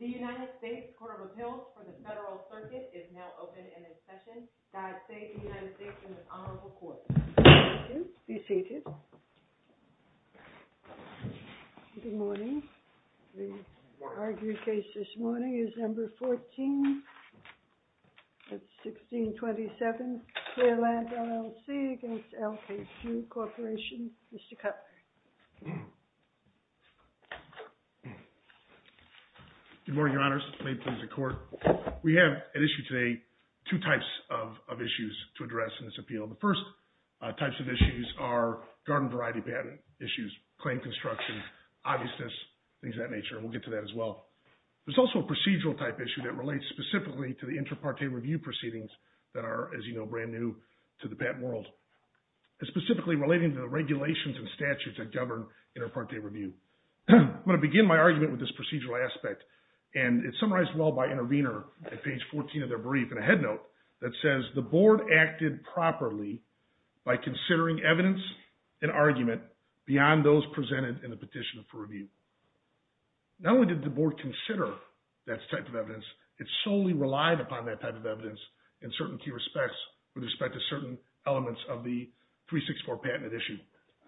The United States Court of Appeals for the Federal Circuit is now open and in session. I say to the United States and the Honorable Court. Thank you. Be seated. Good morning. The argued case this morning is number 14, that's 1627, Clearlamp, LLC v. LKQ Corporation. Mr. Cutler. Good morning, Your Honors. May it please the Court. We have at issue today two types of issues to address in this appeal. The first types of issues are garden variety patent issues, claim construction, obviousness, things of that nature, and we'll get to that as well. There's also a procedural type issue that relates specifically to the inter parte review proceedings that are, as you know, brand new to the patent world. It's specifically relating to the regulations and statutes that govern inter parte review. I'm going to begin my argument with this procedural aspect, and it's summarized well by Intervenor at page 14 of their brief in a head note that says the board acted properly by considering evidence and argument beyond those presented in the petition for review. Not only did the board consider that type of evidence, it solely relied upon that type of evidence in certain key respects with respect to certain elements of the 364 patent issue.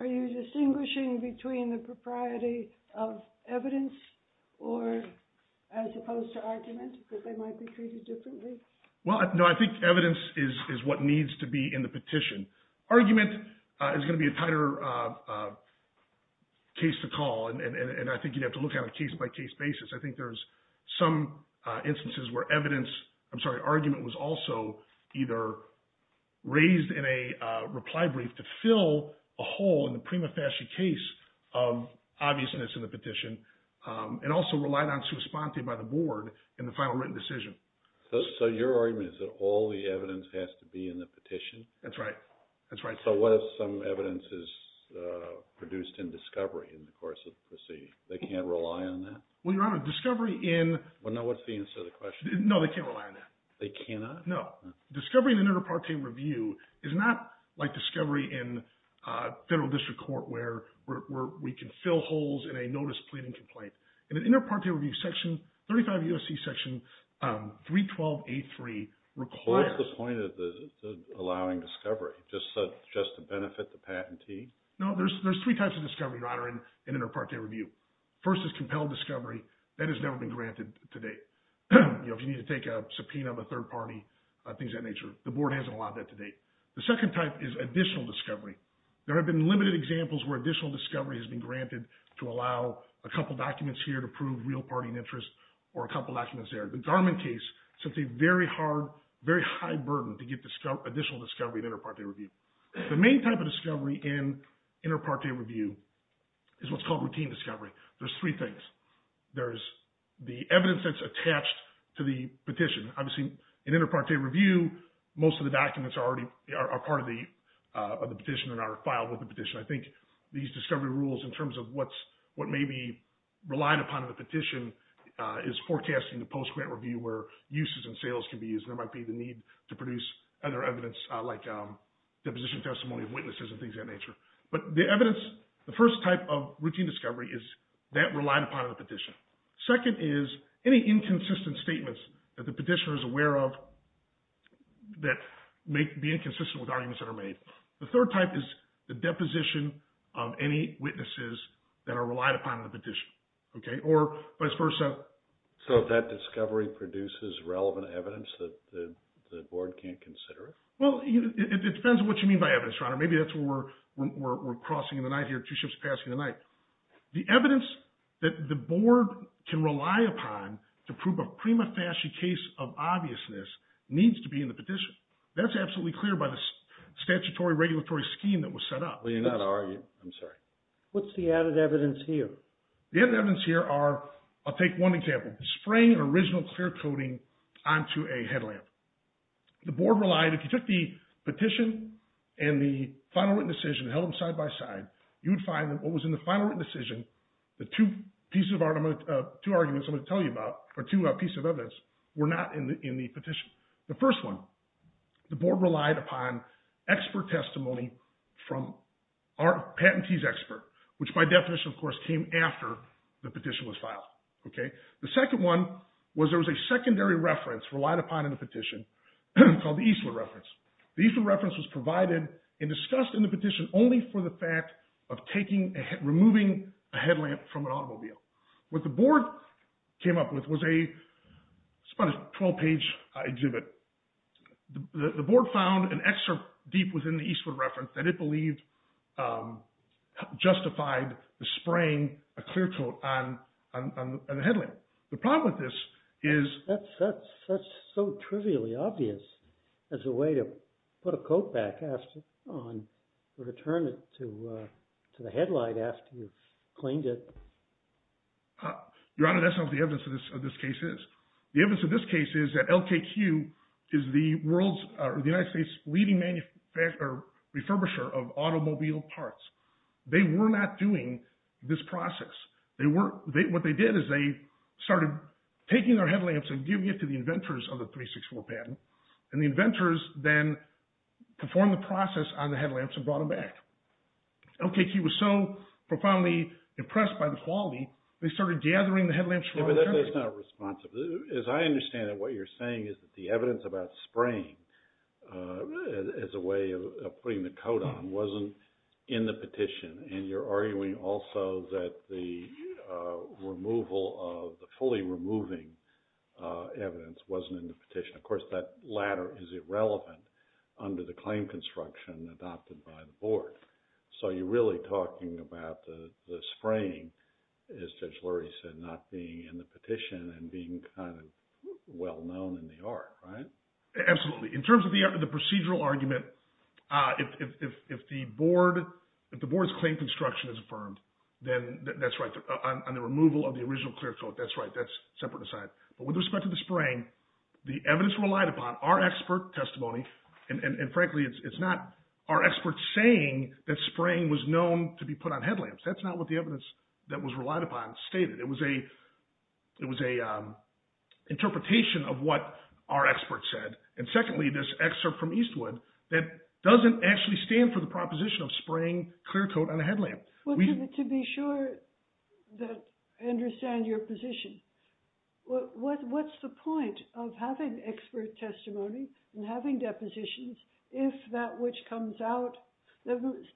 Are you distinguishing between the propriety of evidence or as opposed to argument, because they might be treated differently? Well, no, I think evidence is what needs to be in the petition. Argument is going to be a tighter case to call, and I think you'd have to look at a case-by-case basis. I think there's some instances where evidence, I'm sorry, argument was also either raised in a reply brief to fill a hole in the prima facie case of obviousness in the petition and also relied on sua sponte by the board in the final written decision. So your argument is that all the evidence has to be in the petition? That's right. So what if some evidence is produced in discovery in the course of the proceeding? They can't rely on that? Well, Your Honor, discovery in… Well, no, what's the answer to the question? No, they can't rely on that. They cannot? No. Discovery in an inter parte review is not like discovery in federal district court where we can fill holes in a notice pleading complaint. In an inter parte review section, 35 U.S.C. section 312A3 requires… Allowing discovery just to benefit the patentee? No, there's three types of discovery, Your Honor, in an inter parte review. First is compelled discovery. That has never been granted to date. If you need to take a subpoena of a third party, things of that nature, the board hasn't allowed that to date. The second type is additional discovery. There have been limited examples where additional discovery has been granted to allow a couple documents here to prove real party interest or a couple documents there. The Darman case sent a very hard, very high burden to get additional discovery in inter parte review. The main type of discovery in inter parte review is what's called routine discovery. There's three things. There's the evidence that's attached to the petition. Obviously, in inter parte review, most of the documents are part of the petition and are filed with the petition. I think these discovery rules in terms of what may be relied upon in the petition is forecasting the post grant review where uses and sales can be used. There might be the need to produce other evidence like deposition testimony of witnesses and things of that nature. But the evidence, the first type of routine discovery is that relied upon in the petition. Second is any inconsistent statements that the petitioner is aware of that may be inconsistent with arguments that are made. The third type is the deposition of any witnesses that are relied upon in the petition or vice versa. So that discovery produces relevant evidence that the board can't consider it? Well, it depends on what you mean by evidence, Your Honor. Maybe that's where we're crossing the night here, two ships passing the night. The evidence that the board can rely upon to prove a prima facie case of obviousness needs to be in the petition. That's absolutely clear by the statutory regulatory scheme that was set up. We're not arguing. I'm sorry. What's the added evidence here? The evidence here are, I'll take one example. Spraying an original clear coating onto a headlamp. The board relied, if you took the petition and the final written decision and held them side by side, you would find that what was in the final written decision, the two arguments I'm going to tell you about, or two pieces of evidence, were not in the petition. The first one, the board relied upon expert testimony from our patentee's expert, which by definition, of course, came after the petition was filed. The second one was there was a secondary reference relied upon in the petition called the Eastwood reference. The Eastwood reference was provided and discussed in the petition only for the fact of removing a headlamp from an automobile. What the board came up with was a 12-page exhibit. The board found an excerpt deep within the Eastwood reference that it believed justified the spraying a clear coat on a headlamp. The problem with this is – That's so trivially obvious as a way to put a coat back on or return it to the headlight after you've cleaned it. Your Honor, that's not what the evidence of this case is. The evidence of this case is that LKQ is the world's – the United States' leading manufacturer – refurbisher of automobile parts. They were not doing this process. What they did is they started taking their headlamps and giving it to the inventors of the 364 patent, and the inventors then performed the process on the headlamps and brought them back. LKQ was so profoundly impressed by the quality, they started gathering the headlamps from all over the country. But that's not responsive. As I understand it, what you're saying is that the evidence about spraying as a way of putting the coat on wasn't in the petition. And you're arguing also that the removal of – the fully removing evidence wasn't in the petition. Of course, that latter is irrelevant under the claim construction adopted by the board. So you're really talking about the spraying, as Judge Lurie said, not being in the petition and being kind of well-known in the art, right? Absolutely. In terms of the procedural argument, if the board's claim construction is affirmed, then that's right, on the removal of the original clear coat, that's right, that's separate aside. But with respect to the spraying, the evidence relied upon, our expert testimony – and frankly, it's not our experts saying that spraying was known to be put on headlamps. That's not what the evidence that was relied upon stated. It was an interpretation of what our expert said. And secondly, this excerpt from Eastwood that doesn't actually stand for the proposition of spraying clear coat on a headlamp. To be sure that I understand your position, what's the point of having expert testimony and having depositions if that which comes out –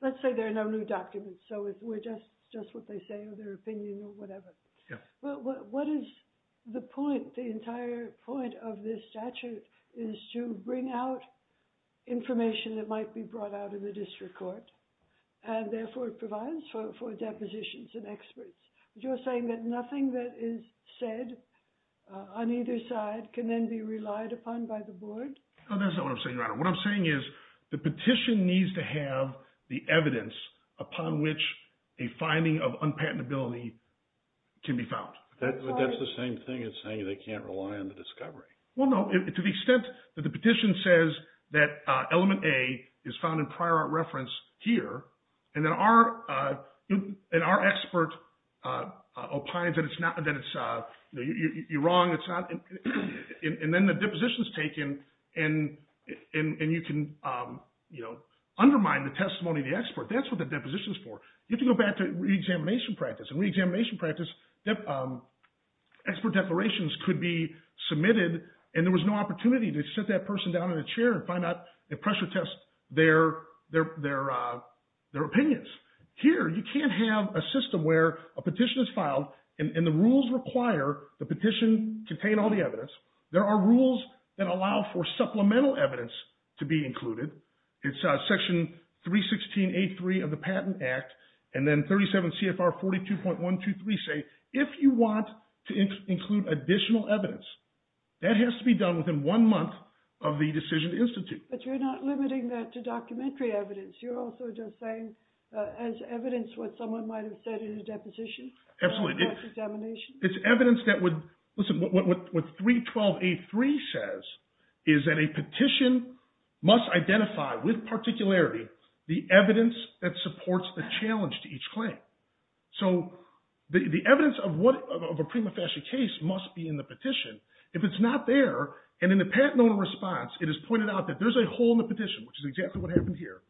let's say there are no new documents, so it's just what they say or their opinion or whatever. But what is the point, the entire point of this statute is to bring out information that might be brought out in the district court and therefore provides for depositions and experts. But you're saying that nothing that is said on either side can then be relied upon by the board? No, that's not what I'm saying, Your Honor. What I'm saying is the petition needs to have the evidence upon which a finding of unpatentability can be found. But that's the same thing as saying they can't rely on the discovery. Well, no, to the extent that the petition says that element A is found in prior art reference here, and then our expert opines that it's – you're wrong, it's not – and then the deposition is taken and you can undermine the testimony of the expert. That's what the deposition is for. You can go back to reexamination practice. In reexamination practice, expert declarations could be submitted and there was no opportunity to sit that person down in a chair and find out and pressure test their opinions. Here you can't have a system where a petition is filed and the rules require the petition contain all the evidence. There are rules that allow for supplemental evidence to be included. It's section 316.83 of the Patent Act, and then 37 CFR 42.123 say if you want to include additional evidence, that has to be done within one month of the decision to institute. But you're not limiting that to documentary evidence. You're also just saying as evidence what someone might have said in a deposition. Absolutely. Or in past examination. Listen, what 312.83 says is that a petition must identify with particularity the evidence that supports the challenge to each claim. So the evidence of a prima facie case must be in the petition. If it's not there, and in the patent owner response it is pointed out that there's a hole in the petition, which is exactly what happened here.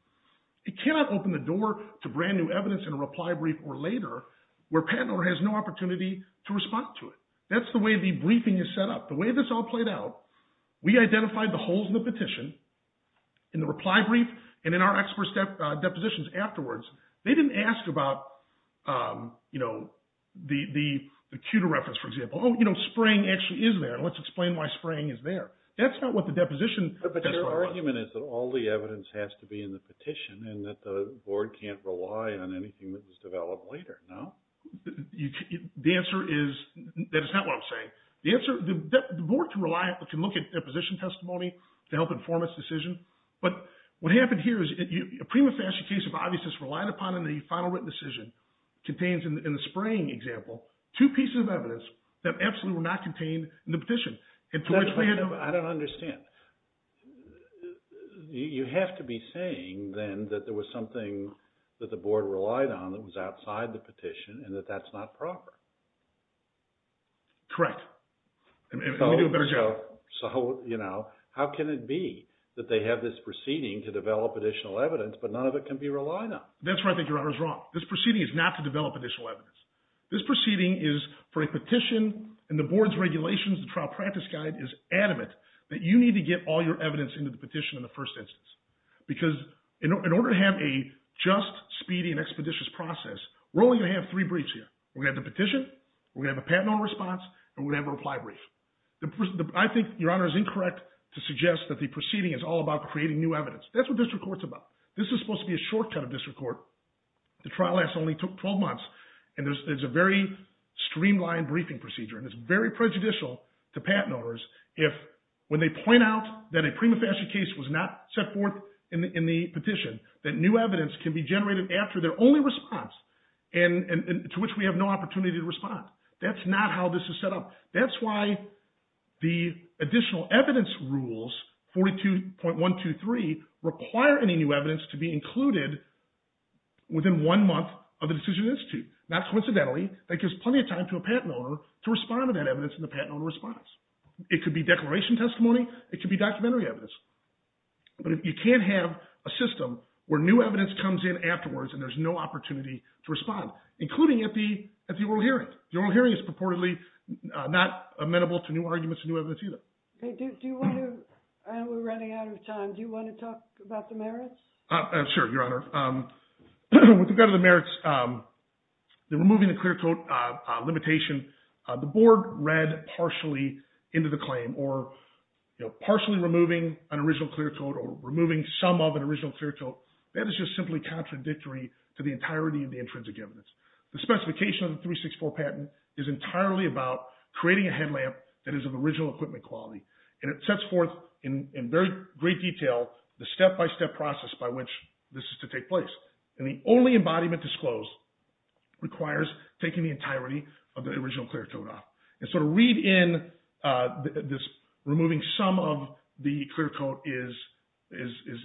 It cannot open the door to brand new evidence in a reply brief or later where a patent owner has no opportunity to respond to it. That's the way the briefing is set up. The way this all played out, we identified the holes in the petition in the reply brief and in our expert depositions afterwards. They didn't ask about the pewter reference, for example. Oh, you know, spraying actually is there. Let's explain why spraying is there. That's not what the deposition… But your argument is that all the evidence has to be in the petition and that the board can't rely on anything that was developed later, no? The answer is – that is not what I'm saying. The answer – the board can rely – can look at deposition testimony to help inform its decision. But what happened here is a prima facie case of obviousness relied upon in the final written decision contains in the spraying example two pieces of evidence that absolutely were not contained in the petition. I don't understand. You have to be saying then that there was something that the board relied on that was outside the petition and that that's not proper. Correct. Let me do a better job. So, you know, how can it be that they have this proceeding to develop additional evidence but none of it can be relied on? That's right, but your honor is wrong. This proceeding is not to develop additional evidence. This proceeding is for a petition and the board's regulations, the trial practice guide is adamant that you need to get all your evidence into the petition in the first instance. Because in order to have a just, speedy, and expeditious process, we're only going to have three briefs here. We're going to have the petition, we're going to have a patent on response, and we're going to have a reply brief. I think your honor is incorrect to suggest that the proceeding is all about creating new evidence. That's what district court's about. This is supposed to be a shortcut of district court. The trial only took 12 months and there's a very streamlined briefing procedure and it's very prejudicial to patent owners if when they point out that a prima facie case was not set forth in the petition, that new evidence can be generated after their only response and to which we have no opportunity to respond. That's not how this is set up. That's why the additional evidence rules, 42.123, require any new evidence to be included within one month of the decision of the institute. Not coincidentally, that gives plenty of time to a patent owner to respond to that evidence in the patent owner response. It could be declaration testimony, it could be documentary evidence. But you can't have a system where new evidence comes in afterwards and there's no opportunity to respond, including at the oral hearing. The oral hearing is purportedly not amenable to new arguments and new evidence either. I know we're running out of time. Do you want to talk about the merits? Sure, your honor. With regard to the merits, the removing the clear coat limitation, the board read partially into the claim or partially removing an original clear coat or removing some of an original clear coat. That is just simply contradictory to the entirety of the intrinsic evidence. The specification of the 364 patent is entirely about creating a headlamp that is of original equipment quality. And it sets forth in great detail the step-by-step process by which this is to take place. And the only embodiment disclosed requires taking the entirety of the original clear coat off. And so to read in this removing some of the clear coat is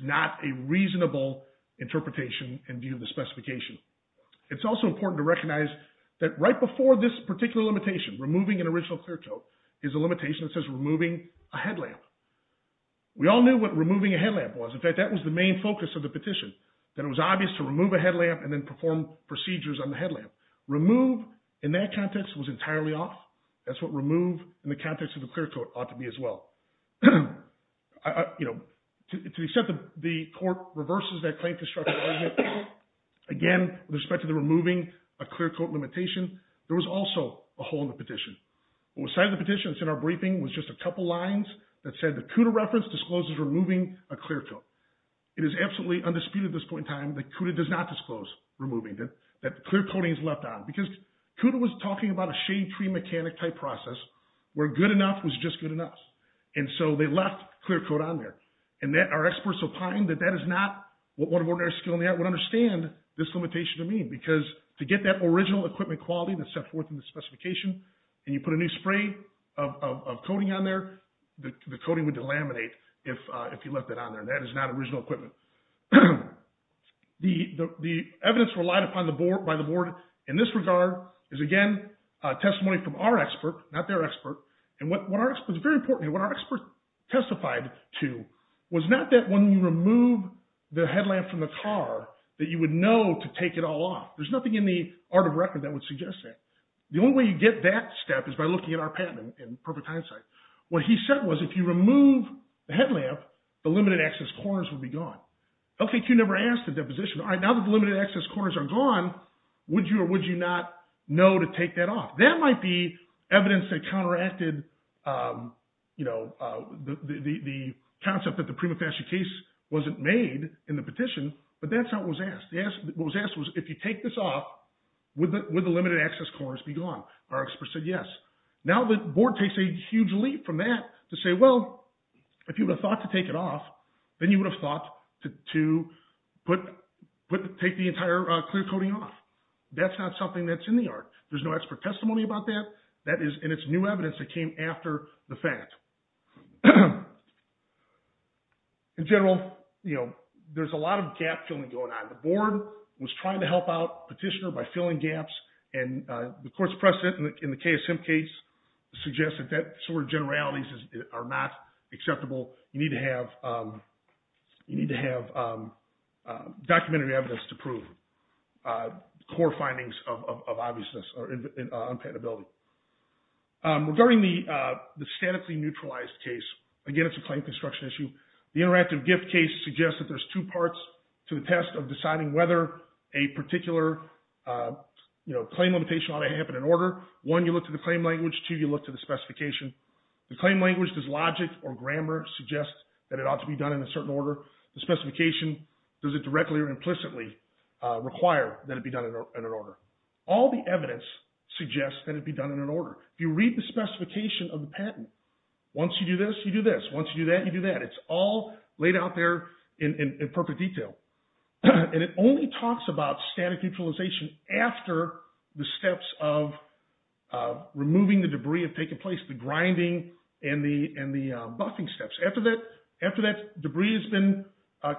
not a reasonable interpretation in view of the specification. It's also important to recognize that right before this particular limitation, removing an original clear coat, is a limitation that says removing a headlamp. We all knew what removing a headlamp was. In fact, that was the main focus of the petition, that it was obvious to remove a headlamp and then perform procedures on the headlamp. Remove in that context was entirely off. That's what remove in the context of the clear coat ought to be as well. You know, to the extent that the court reverses that claim construction argument, again, with respect to the removing a clear coat limitation, there was also a hole in the petition. What was cited in the petition that's in our briefing was just a couple lines that said the CUDA reference discloses removing a clear coat. It is absolutely undisputed at this point in time that CUDA does not disclose removing, that the clear coating is left on. Because CUDA was talking about a shade tree mechanic type process where good enough was just good enough. And so they left clear coat on there. And our experts opined that that is not what an ordinary skilled mechanic would understand this limitation to mean. Because to get that original equipment quality that's set forth in the specification, and you put a new spray of coating on there, the coating would delaminate if you left it on there. That is not original equipment. The evidence relied upon by the board in this regard is, again, testimony from our expert, not their expert. And what our expert testified to was not that when you remove the headlamp from the car that you would know to take it all off. There's nothing in the art of record that would suggest that. The only way you get that step is by looking at our patent in perfect hindsight. What he said was if you remove the headlamp, the limited access corners would be gone. LKQ never asked the deposition, all right, now that the limited access corners are gone, would you or would you not know to take that off? That might be evidence that counteracted the concept that the prima facie case wasn't made in the petition, but that's not what was asked. What was asked was if you take this off, would the limited access corners be gone? Our expert said yes. Now the board takes a huge leap from that to say, well, if you would have thought to take it off, then you would have thought to take the entire clear coating off. That's not something that's in the art. There's no expert testimony about that. That is, and it's new evidence that came after the fact. In general, you know, there's a lot of gap filling going on. The board was trying to help out Petitioner by filling gaps, and the court's precedent in the KSM case suggests that that sort of generalities are not acceptable. You need to have documentary evidence to prove core findings of obviousness or unpatentability. Regarding the statically neutralized case, again, it's a claim construction issue. The interactive gift case suggests that there's two parts to the test of deciding whether a particular, you know, claim limitation ought to happen in order. One, you look to the claim language. Two, you look to the specification. The claim language, does logic or grammar suggest that it ought to be done in a certain order? The specification, does it directly or implicitly require that it be done in an order? All the evidence suggests that it be done in an order. If you read the specification of the patent, once you do this, you do this. Once you do that, you do that. It's all laid out there in perfect detail. And it only talks about static neutralization after the steps of removing the debris have taken place, the grinding and the buffing steps. After that debris has been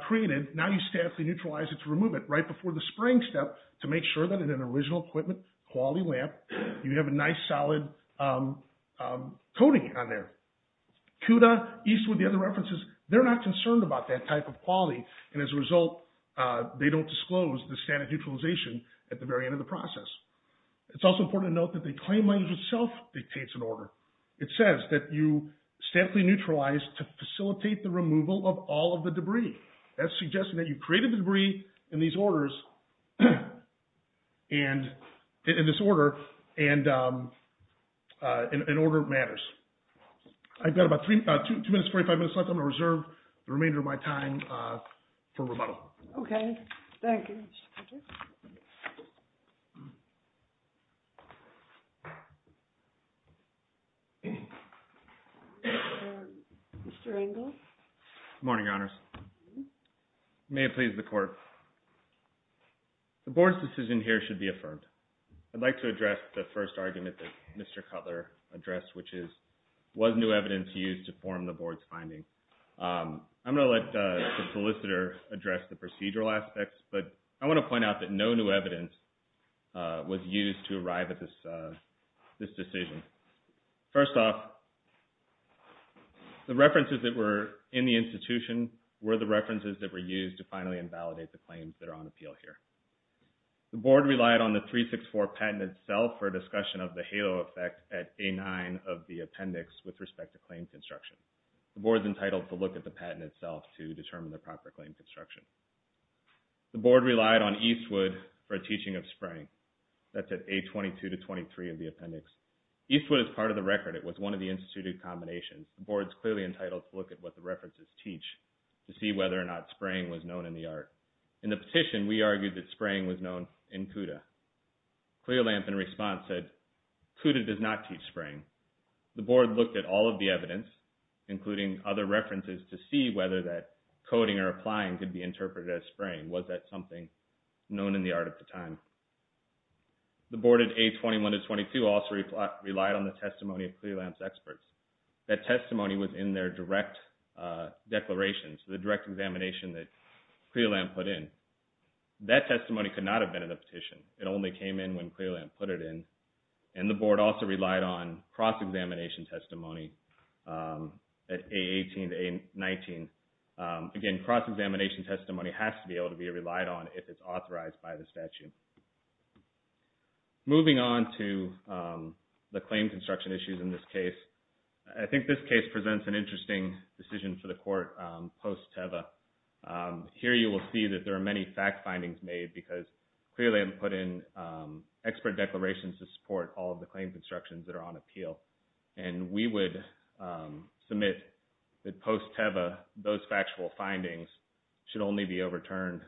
created, now you statically neutralize it to remove it right before the spraying step to make sure that in an original equipment quality lamp, you have a nice, solid coating on there. CUDA, Eastwood, the other references, they're not concerned about that type of quality. And as a result, they don't disclose the standard neutralization at the very end of the process. It's also important to note that the claim language itself dictates an order. It says that you statically neutralize to facilitate the removal of all of the debris. That's suggesting that you created the debris in these orders, in this order, and an order matters. I've got about two minutes, 45 minutes left. I'm going to reserve the remainder of my time for rebuttal. OK. Thank you. Thank you. Mr. Engel? Good morning, Your Honors. May it please the Court. The board's decision here should be affirmed. I'd like to address the first argument that Mr. Cutler addressed, which is, was new evidence used to form the board's finding? I'm going to let the solicitor address the procedural aspects, but I want to point out that no new evidence was used to arrive at this decision. First off, the references that were in the institution were the references that were used to finally invalidate the claims that are on appeal here. The board relied on the 364 patent itself for discussion of the halo effect at A-9 of the appendix with respect to claim construction. The board's entitled to look at the patent itself to determine the proper claim construction. The board relied on Eastwood for a teaching of spraying. That's at A-22 to 23 of the appendix. Eastwood is part of the record. It was one of the instituted combinations. The board's clearly entitled to look at what the references teach to see whether or not spraying was known in the art. In the petition, we argued that spraying was known in CUDA. Clearlamp, in response, said, CUDA does not teach spraying. The board looked at all of the evidence, including other references, to see whether that coding or applying could be interpreted as spraying. Was that something known in the art at the time? The board at A-21 to 22 also relied on the testimony of Clearlamp's experts. That testimony was in their direct declarations, the direct examination that Clearlamp put in. That testimony could not have been in the petition. It only came in when Clearlamp put it in. And the board also relied on cross-examination testimony at A-18 to A-19. Again, cross-examination testimony has to be able to be relied on if it's authorized by the statute. Moving on to the claim construction issues in this case. I think this case presents an interesting decision for the court post-TEVA. Here you will see that there are many fact findings made because Clearlamp put in expert declarations to support all of the claim constructions that are on appeal. And we would submit that post-TEVA, those factual findings should only be overturned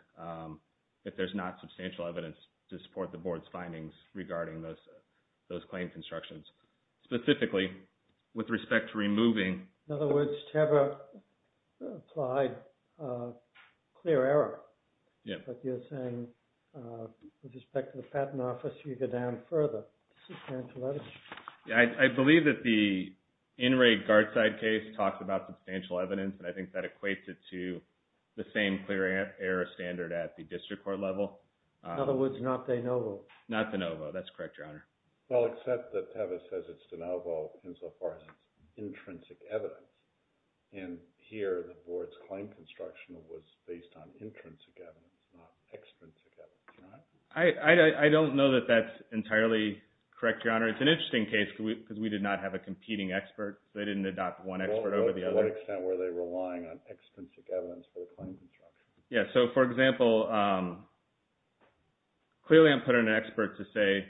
if there's not substantial evidence to support the board's findings regarding those claim constructions. Specifically, with respect to removing... In other words, TEVA applied clear error. Yeah. But you're saying, with respect to the patent office, you go down further. I believe that the in-rate guard side case talks about substantial evidence, and I think that equates it to the same clear error standard at the district court level. In other words, not de novo. Not de novo. That's correct, Your Honor. Well, except that TEVA says it's de novo insofar as intrinsic evidence. And here, the board's claim construction was based on intrinsic evidence, not extrinsic evidence. I don't know that that's entirely correct, Your Honor. It's an interesting case because we did not have a competing expert. They didn't adopt one expert over the other. To what extent were they relying on extrinsic evidence for the claim construction? Yeah. So, for example, Clearlamp put in an expert to say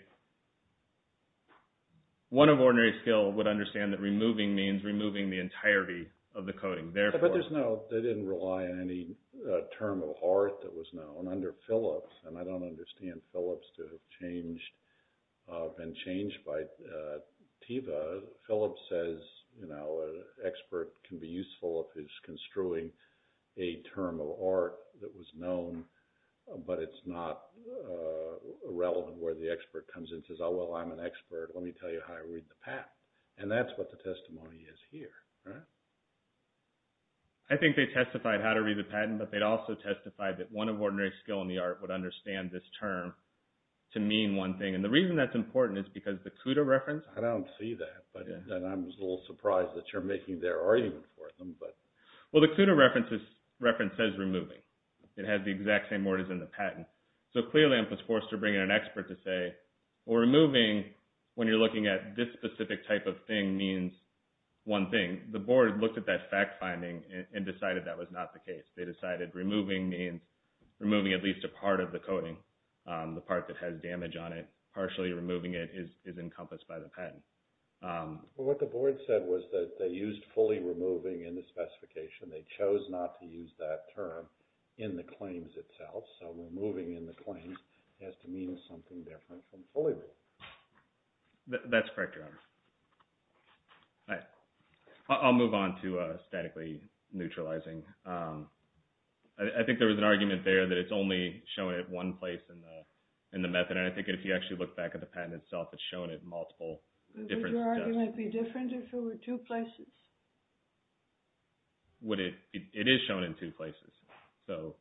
one of ordinary skill would understand that removing means removing the entirety of the coding. But they didn't rely on any term of art that was known. Under Phillips, and I don't understand Phillips to have been changed by TEVA, Phillips says an expert can be useful if he's construing a term of art that was known, but it's not relevant where the expert comes in and says, oh, well, I'm an expert. Let me tell you how to read the patent. And that's what the testimony is here. I think they testified how to read the patent, but they also testified that one of ordinary skill in the art would understand this term to mean one thing. And the reason that's important is because the CUDA reference… I don't see that, but I'm a little surprised that you're making their argument for them. Well, the CUDA reference says removing. It has the exact same word as in the patent. So, Clearlamp was forced to bring in an expert to say, well, removing, when you're looking at this specific type of thing, means one thing. The board looked at that fact-finding and decided that was not the case. They decided removing means removing at least a part of the coding, the part that has damage on it. Partially removing it is encompassed by the patent. Well, what the board said was that they used fully removing in the specification. They chose not to use that term in the claims itself. So, removing in the claims has to mean something different from fully removing. That's correct, Your Honor. I'll move on to statically neutralizing. I think there was an argument there that it's only showing it one place in the method. I think if you actually look back at the patent itself, it's shown at multiple different places. Would your argument be different if it were two places? It is shown in two places. So,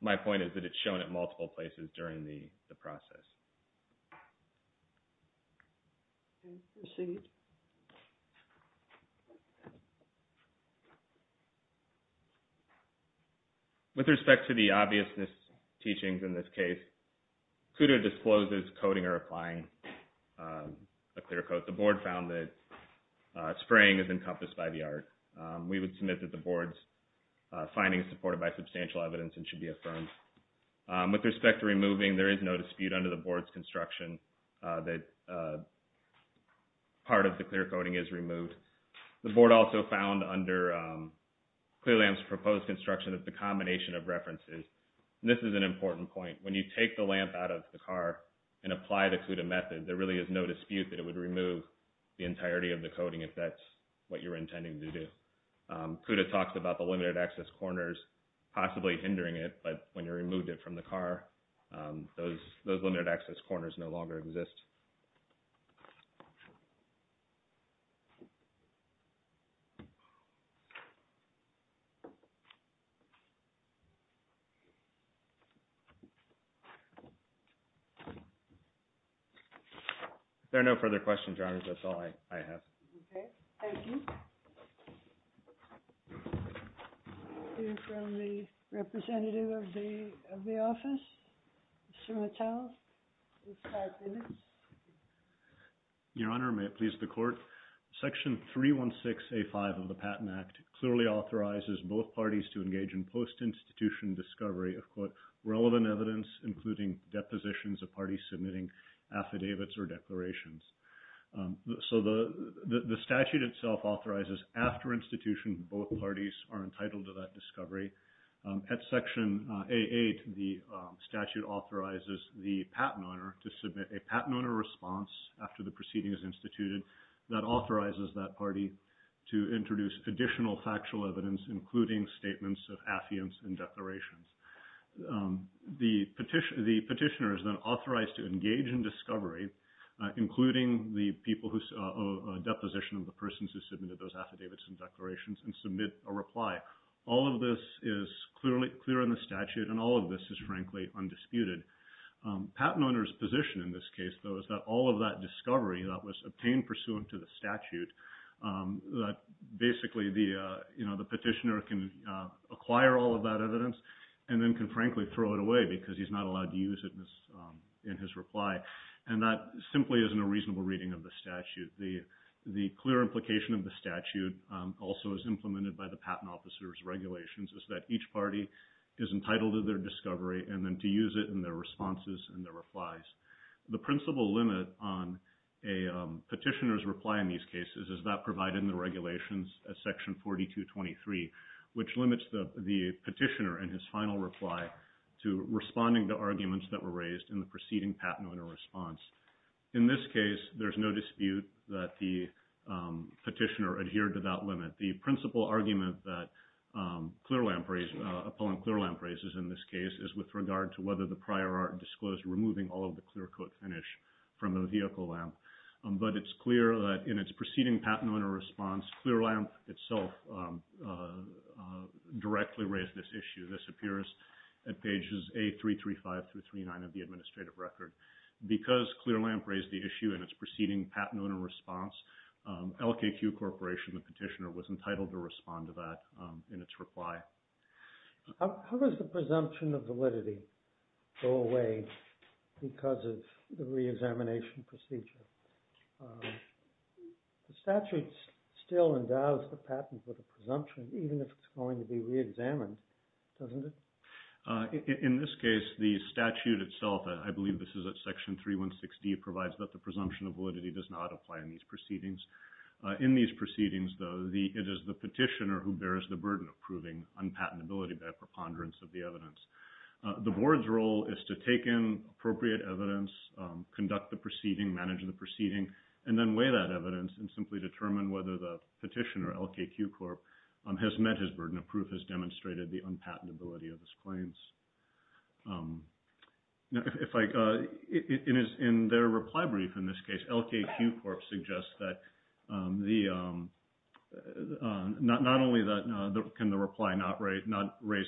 my point is that it's shown at multiple places during the process. With respect to the obviousness teachings in this case, CUDA discloses coding or applying a clear code. The board found that spraying is encompassed by the art. We would submit that the board's finding is supported by substantial evidence and should be affirmed. With respect to removing, there is no dispute under the board that spraying is encompassed by the art. The board also found under clear lamps proposed construction that the combination of references, and this is an important point, when you take the lamp out of the car and apply the CUDA method, there really is no dispute that it would remove the entirety of the coding if that's what you're intending to do. CUDA talks about the limited access corners possibly hindering it, but when you removed it from the car, those limited access corners no longer exist. If there are no further questions, Your Honors, that's all I have. Okay, thank you. Thank you from the representative of the office, Mr. Mattel. Your Honor, may it please the court. Section 316A5 of the Patent Act clearly authorizes both parties to engage in post-institution discovery of, quote, relevant evidence, including depositions of parties submitting affidavits or declarations. So the statute itself authorizes after institution, both parties are entitled to that discovery. At Section A8, the statute authorizes the patent owner to submit a patent owner response after the proceeding is instituted that authorizes that party to introduce additional factual evidence, including statements of affidavits and declarations. The petitioner is then authorized to engage in discovery, including the people who, a deposition of the persons who submitted those affidavits and declarations, and submit a reply. All of this is clear in the statute, and all of this is, frankly, undisputed. Patent owner's position in this case, though, is that all of that discovery that was obtained pursuant to the statute, that basically the petitioner can acquire all of that evidence and then can, frankly, throw it away because he's not allowed to use it in his reply, and that simply isn't a reasonable reading of the statute. The clear implication of the statute, also as implemented by the patent officer's regulations, is that each party is entitled to their discovery and then to use it in their responses and their replies. The principal limit on a petitioner's reply in these cases is that provided in the regulations, as Section 4223, which limits the petitioner in his final reply to responding to arguments that were raised in the preceding patent owner response. In this case, there's no dispute that the petitioner adhered to that limit. The principal argument that Clearlamp raises, appellant Clearlamp raises in this case, is with regard to whether the prior art disclosed removing all of the clear coat finish from the vehicle lamp. But it's clear that in its preceding patent owner response, Clearlamp itself directly raised this issue. This appears at pages A335 through 39 of the administrative record. Because Clearlamp raised the issue in its preceding patent owner response, LKQ Corporation, the petitioner, was entitled to respond to that in its reply. How does the presumption of validity go away because of the reexamination procedure? The statute still endows the patent with a presumption even if it's going to be reexamined, doesn't it? In this case, the statute itself, I believe this is at Section 316D, provides that the presumption of validity does not apply in these proceedings. In these proceedings, though, it is the petitioner who bears the burden of proving unpatentability by preponderance of the evidence. The board's role is to take in appropriate evidence, conduct the proceeding, manage the proceeding, and then weigh that evidence and simply determine whether the petitioner, LKQ Corp., has met his burden of proof, has demonstrated the unpatentability of his claims. In their reply brief in this case, LKQ Corp. suggests that not only can the reply not raise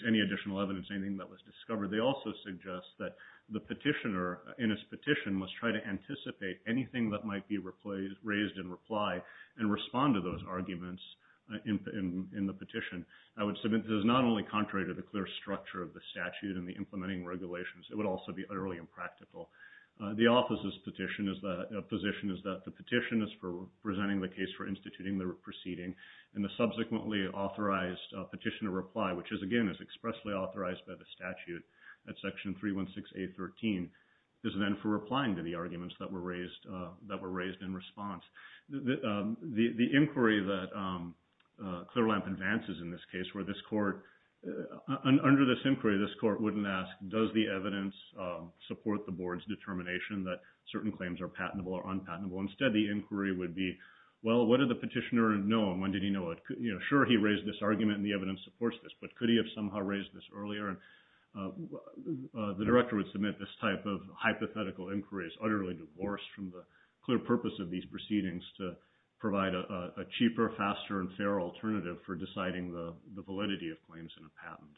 any additional evidence, anything that was discovered, they also suggest that the petitioner in his petition must try to anticipate anything that might be raised in reply and respond to those arguments in the petition. I would submit this is not only contrary to the clear structure of the statute and the implementing regulations, it would also be utterly impractical. The office's position is that the petition is for presenting the case for instituting the proceeding, and the subsequently authorized petitioner reply, which is, again, expressly authorized by the statute at Section 316A.13, is then for replying to the arguments that were raised in response. The inquiry that Clearlamp advances in this case, under this inquiry, this court wouldn't ask, does the evidence support the board's determination that certain claims are patentable or unpatentable? Instead, the inquiry would be, well, what did the petitioner know, and when did he know it? Sure, he raised this argument, and the evidence supports this, but could he have somehow raised this earlier? The director would submit this type of hypothetical inquiry is utterly divorced from the clear purpose of these proceedings to provide a cheaper, faster, and fairer alternative for deciding the validity of claims in a patent.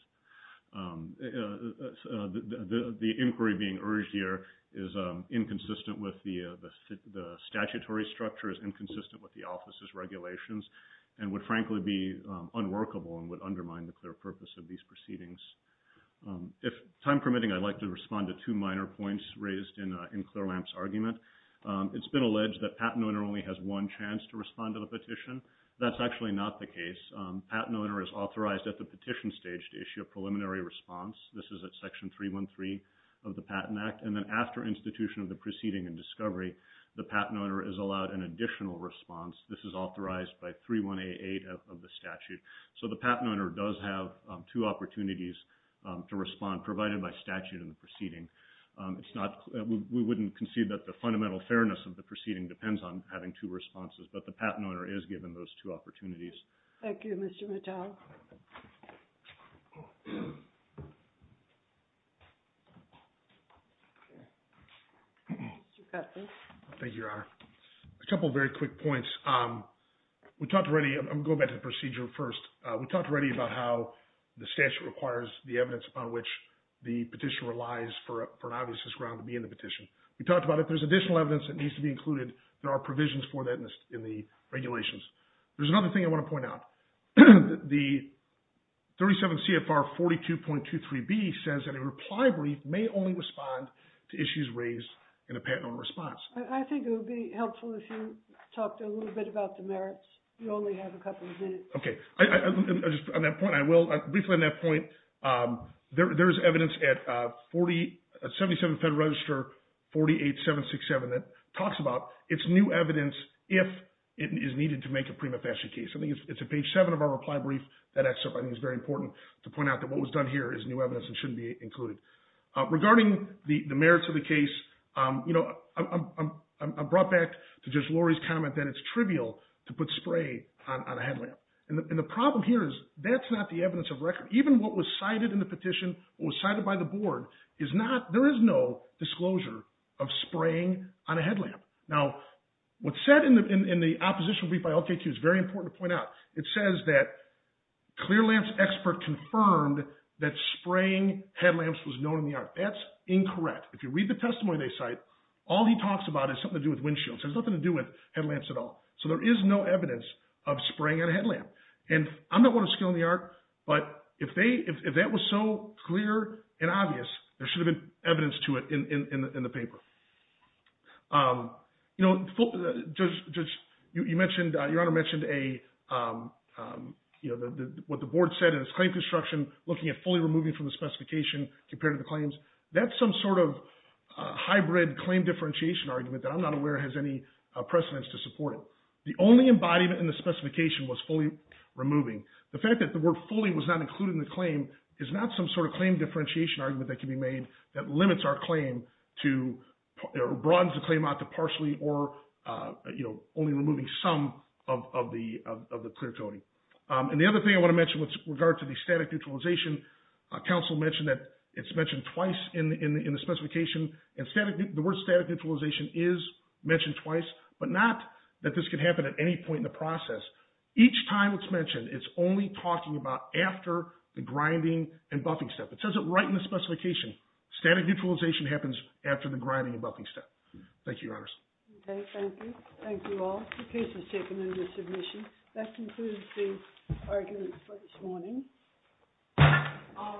The inquiry being urged here is inconsistent with the statutory structure, is inconsistent with the office's regulations, and would, frankly, be unworkable and would undermine the clear purpose of these proceedings. If time permitting, I'd like to respond to two minor points raised in Clearlamp's argument. It's been alleged that a patent owner only has one chance to respond to the petition. That's actually not the case. A patent owner is authorized at the petition stage to issue a preliminary response. This is at Section 313 of the Patent Act, and then after institution of the proceeding and discovery, the patent owner is allowed an additional response. This is authorized by 3188 of the statute. So the patent owner does have two opportunities to respond, provided by statute in the proceeding. We wouldn't concede that the fundamental fairness of the proceeding depends on having two responses, but the patent owner is given those two opportunities. Thank you, Mr. Mattel. Thank you, Your Honor. A couple of very quick points. We talked already, I'm going to go back to the procedure first. We talked already about how the statute requires the evidence upon which the petition relies for an obvious ground to be in the petition. We talked about if there's additional evidence that needs to be included, there are I just want to point out, the 37 CFR 42.23B says that a reply brief may only respond to issues raised in a patent owner response. I think it would be helpful if you talked a little bit about the merits. You only have a couple of minutes. Okay. On that point, I will, briefly on that point, there is evidence at 77 Federal Register 48767 that it's new evidence if it is needed to make a prima facie case. I think it's at page 7 of our reply brief. That excerpt, I think, is very important to point out that what was done here is new evidence and shouldn't be included. Regarding the merits of the case, I'm brought back to Judge Lori's comment that it's trivial to put spray on a headlamp. And the problem here is that's not the evidence of record. Even what was cited in the petition, what was cited by the board, there is no disclosure of spraying on a headlamp. Now, what's said in the opposition brief by LKQ is very important to point out. It says that clear lamps expert confirmed that spraying headlamps was known in the art. That's incorrect. If you read the testimony they cite, all he talks about is something to do with windshields. It has nothing to do with headlamps at all. So there is no evidence of spraying on a headlamp. And I'm not one of skill in the art, but if that was so clear and obvious, there should have been evidence to it in the paper. You know, Judge, you mentioned, Your Honor mentioned what the board said in its claim construction, looking at fully removing from the specification compared to the claims. That's some sort of hybrid claim differentiation argument that I'm not aware has any precedence to support it. The only embodiment in the specification was fully removing. The fact that the word fully was not included in the claim is not some sort of claim differentiation argument that can be made that limits our claim to, broadens the claim out to partially or, you know, only removing some of the clear coating. And the other thing I want to mention with regard to the static neutralization, counsel mentioned that it's mentioned twice, but not that this could happen at any point in the process. Each time it's mentioned, it's only talking about after the grinding and buffing step. It says it right in the specification. Static neutralization happens after the grinding and buffing step. Thank you, Your Honors. Okay, thank you. Thank you all. The case is taken under submission. That concludes the arguments for this morning. All rise.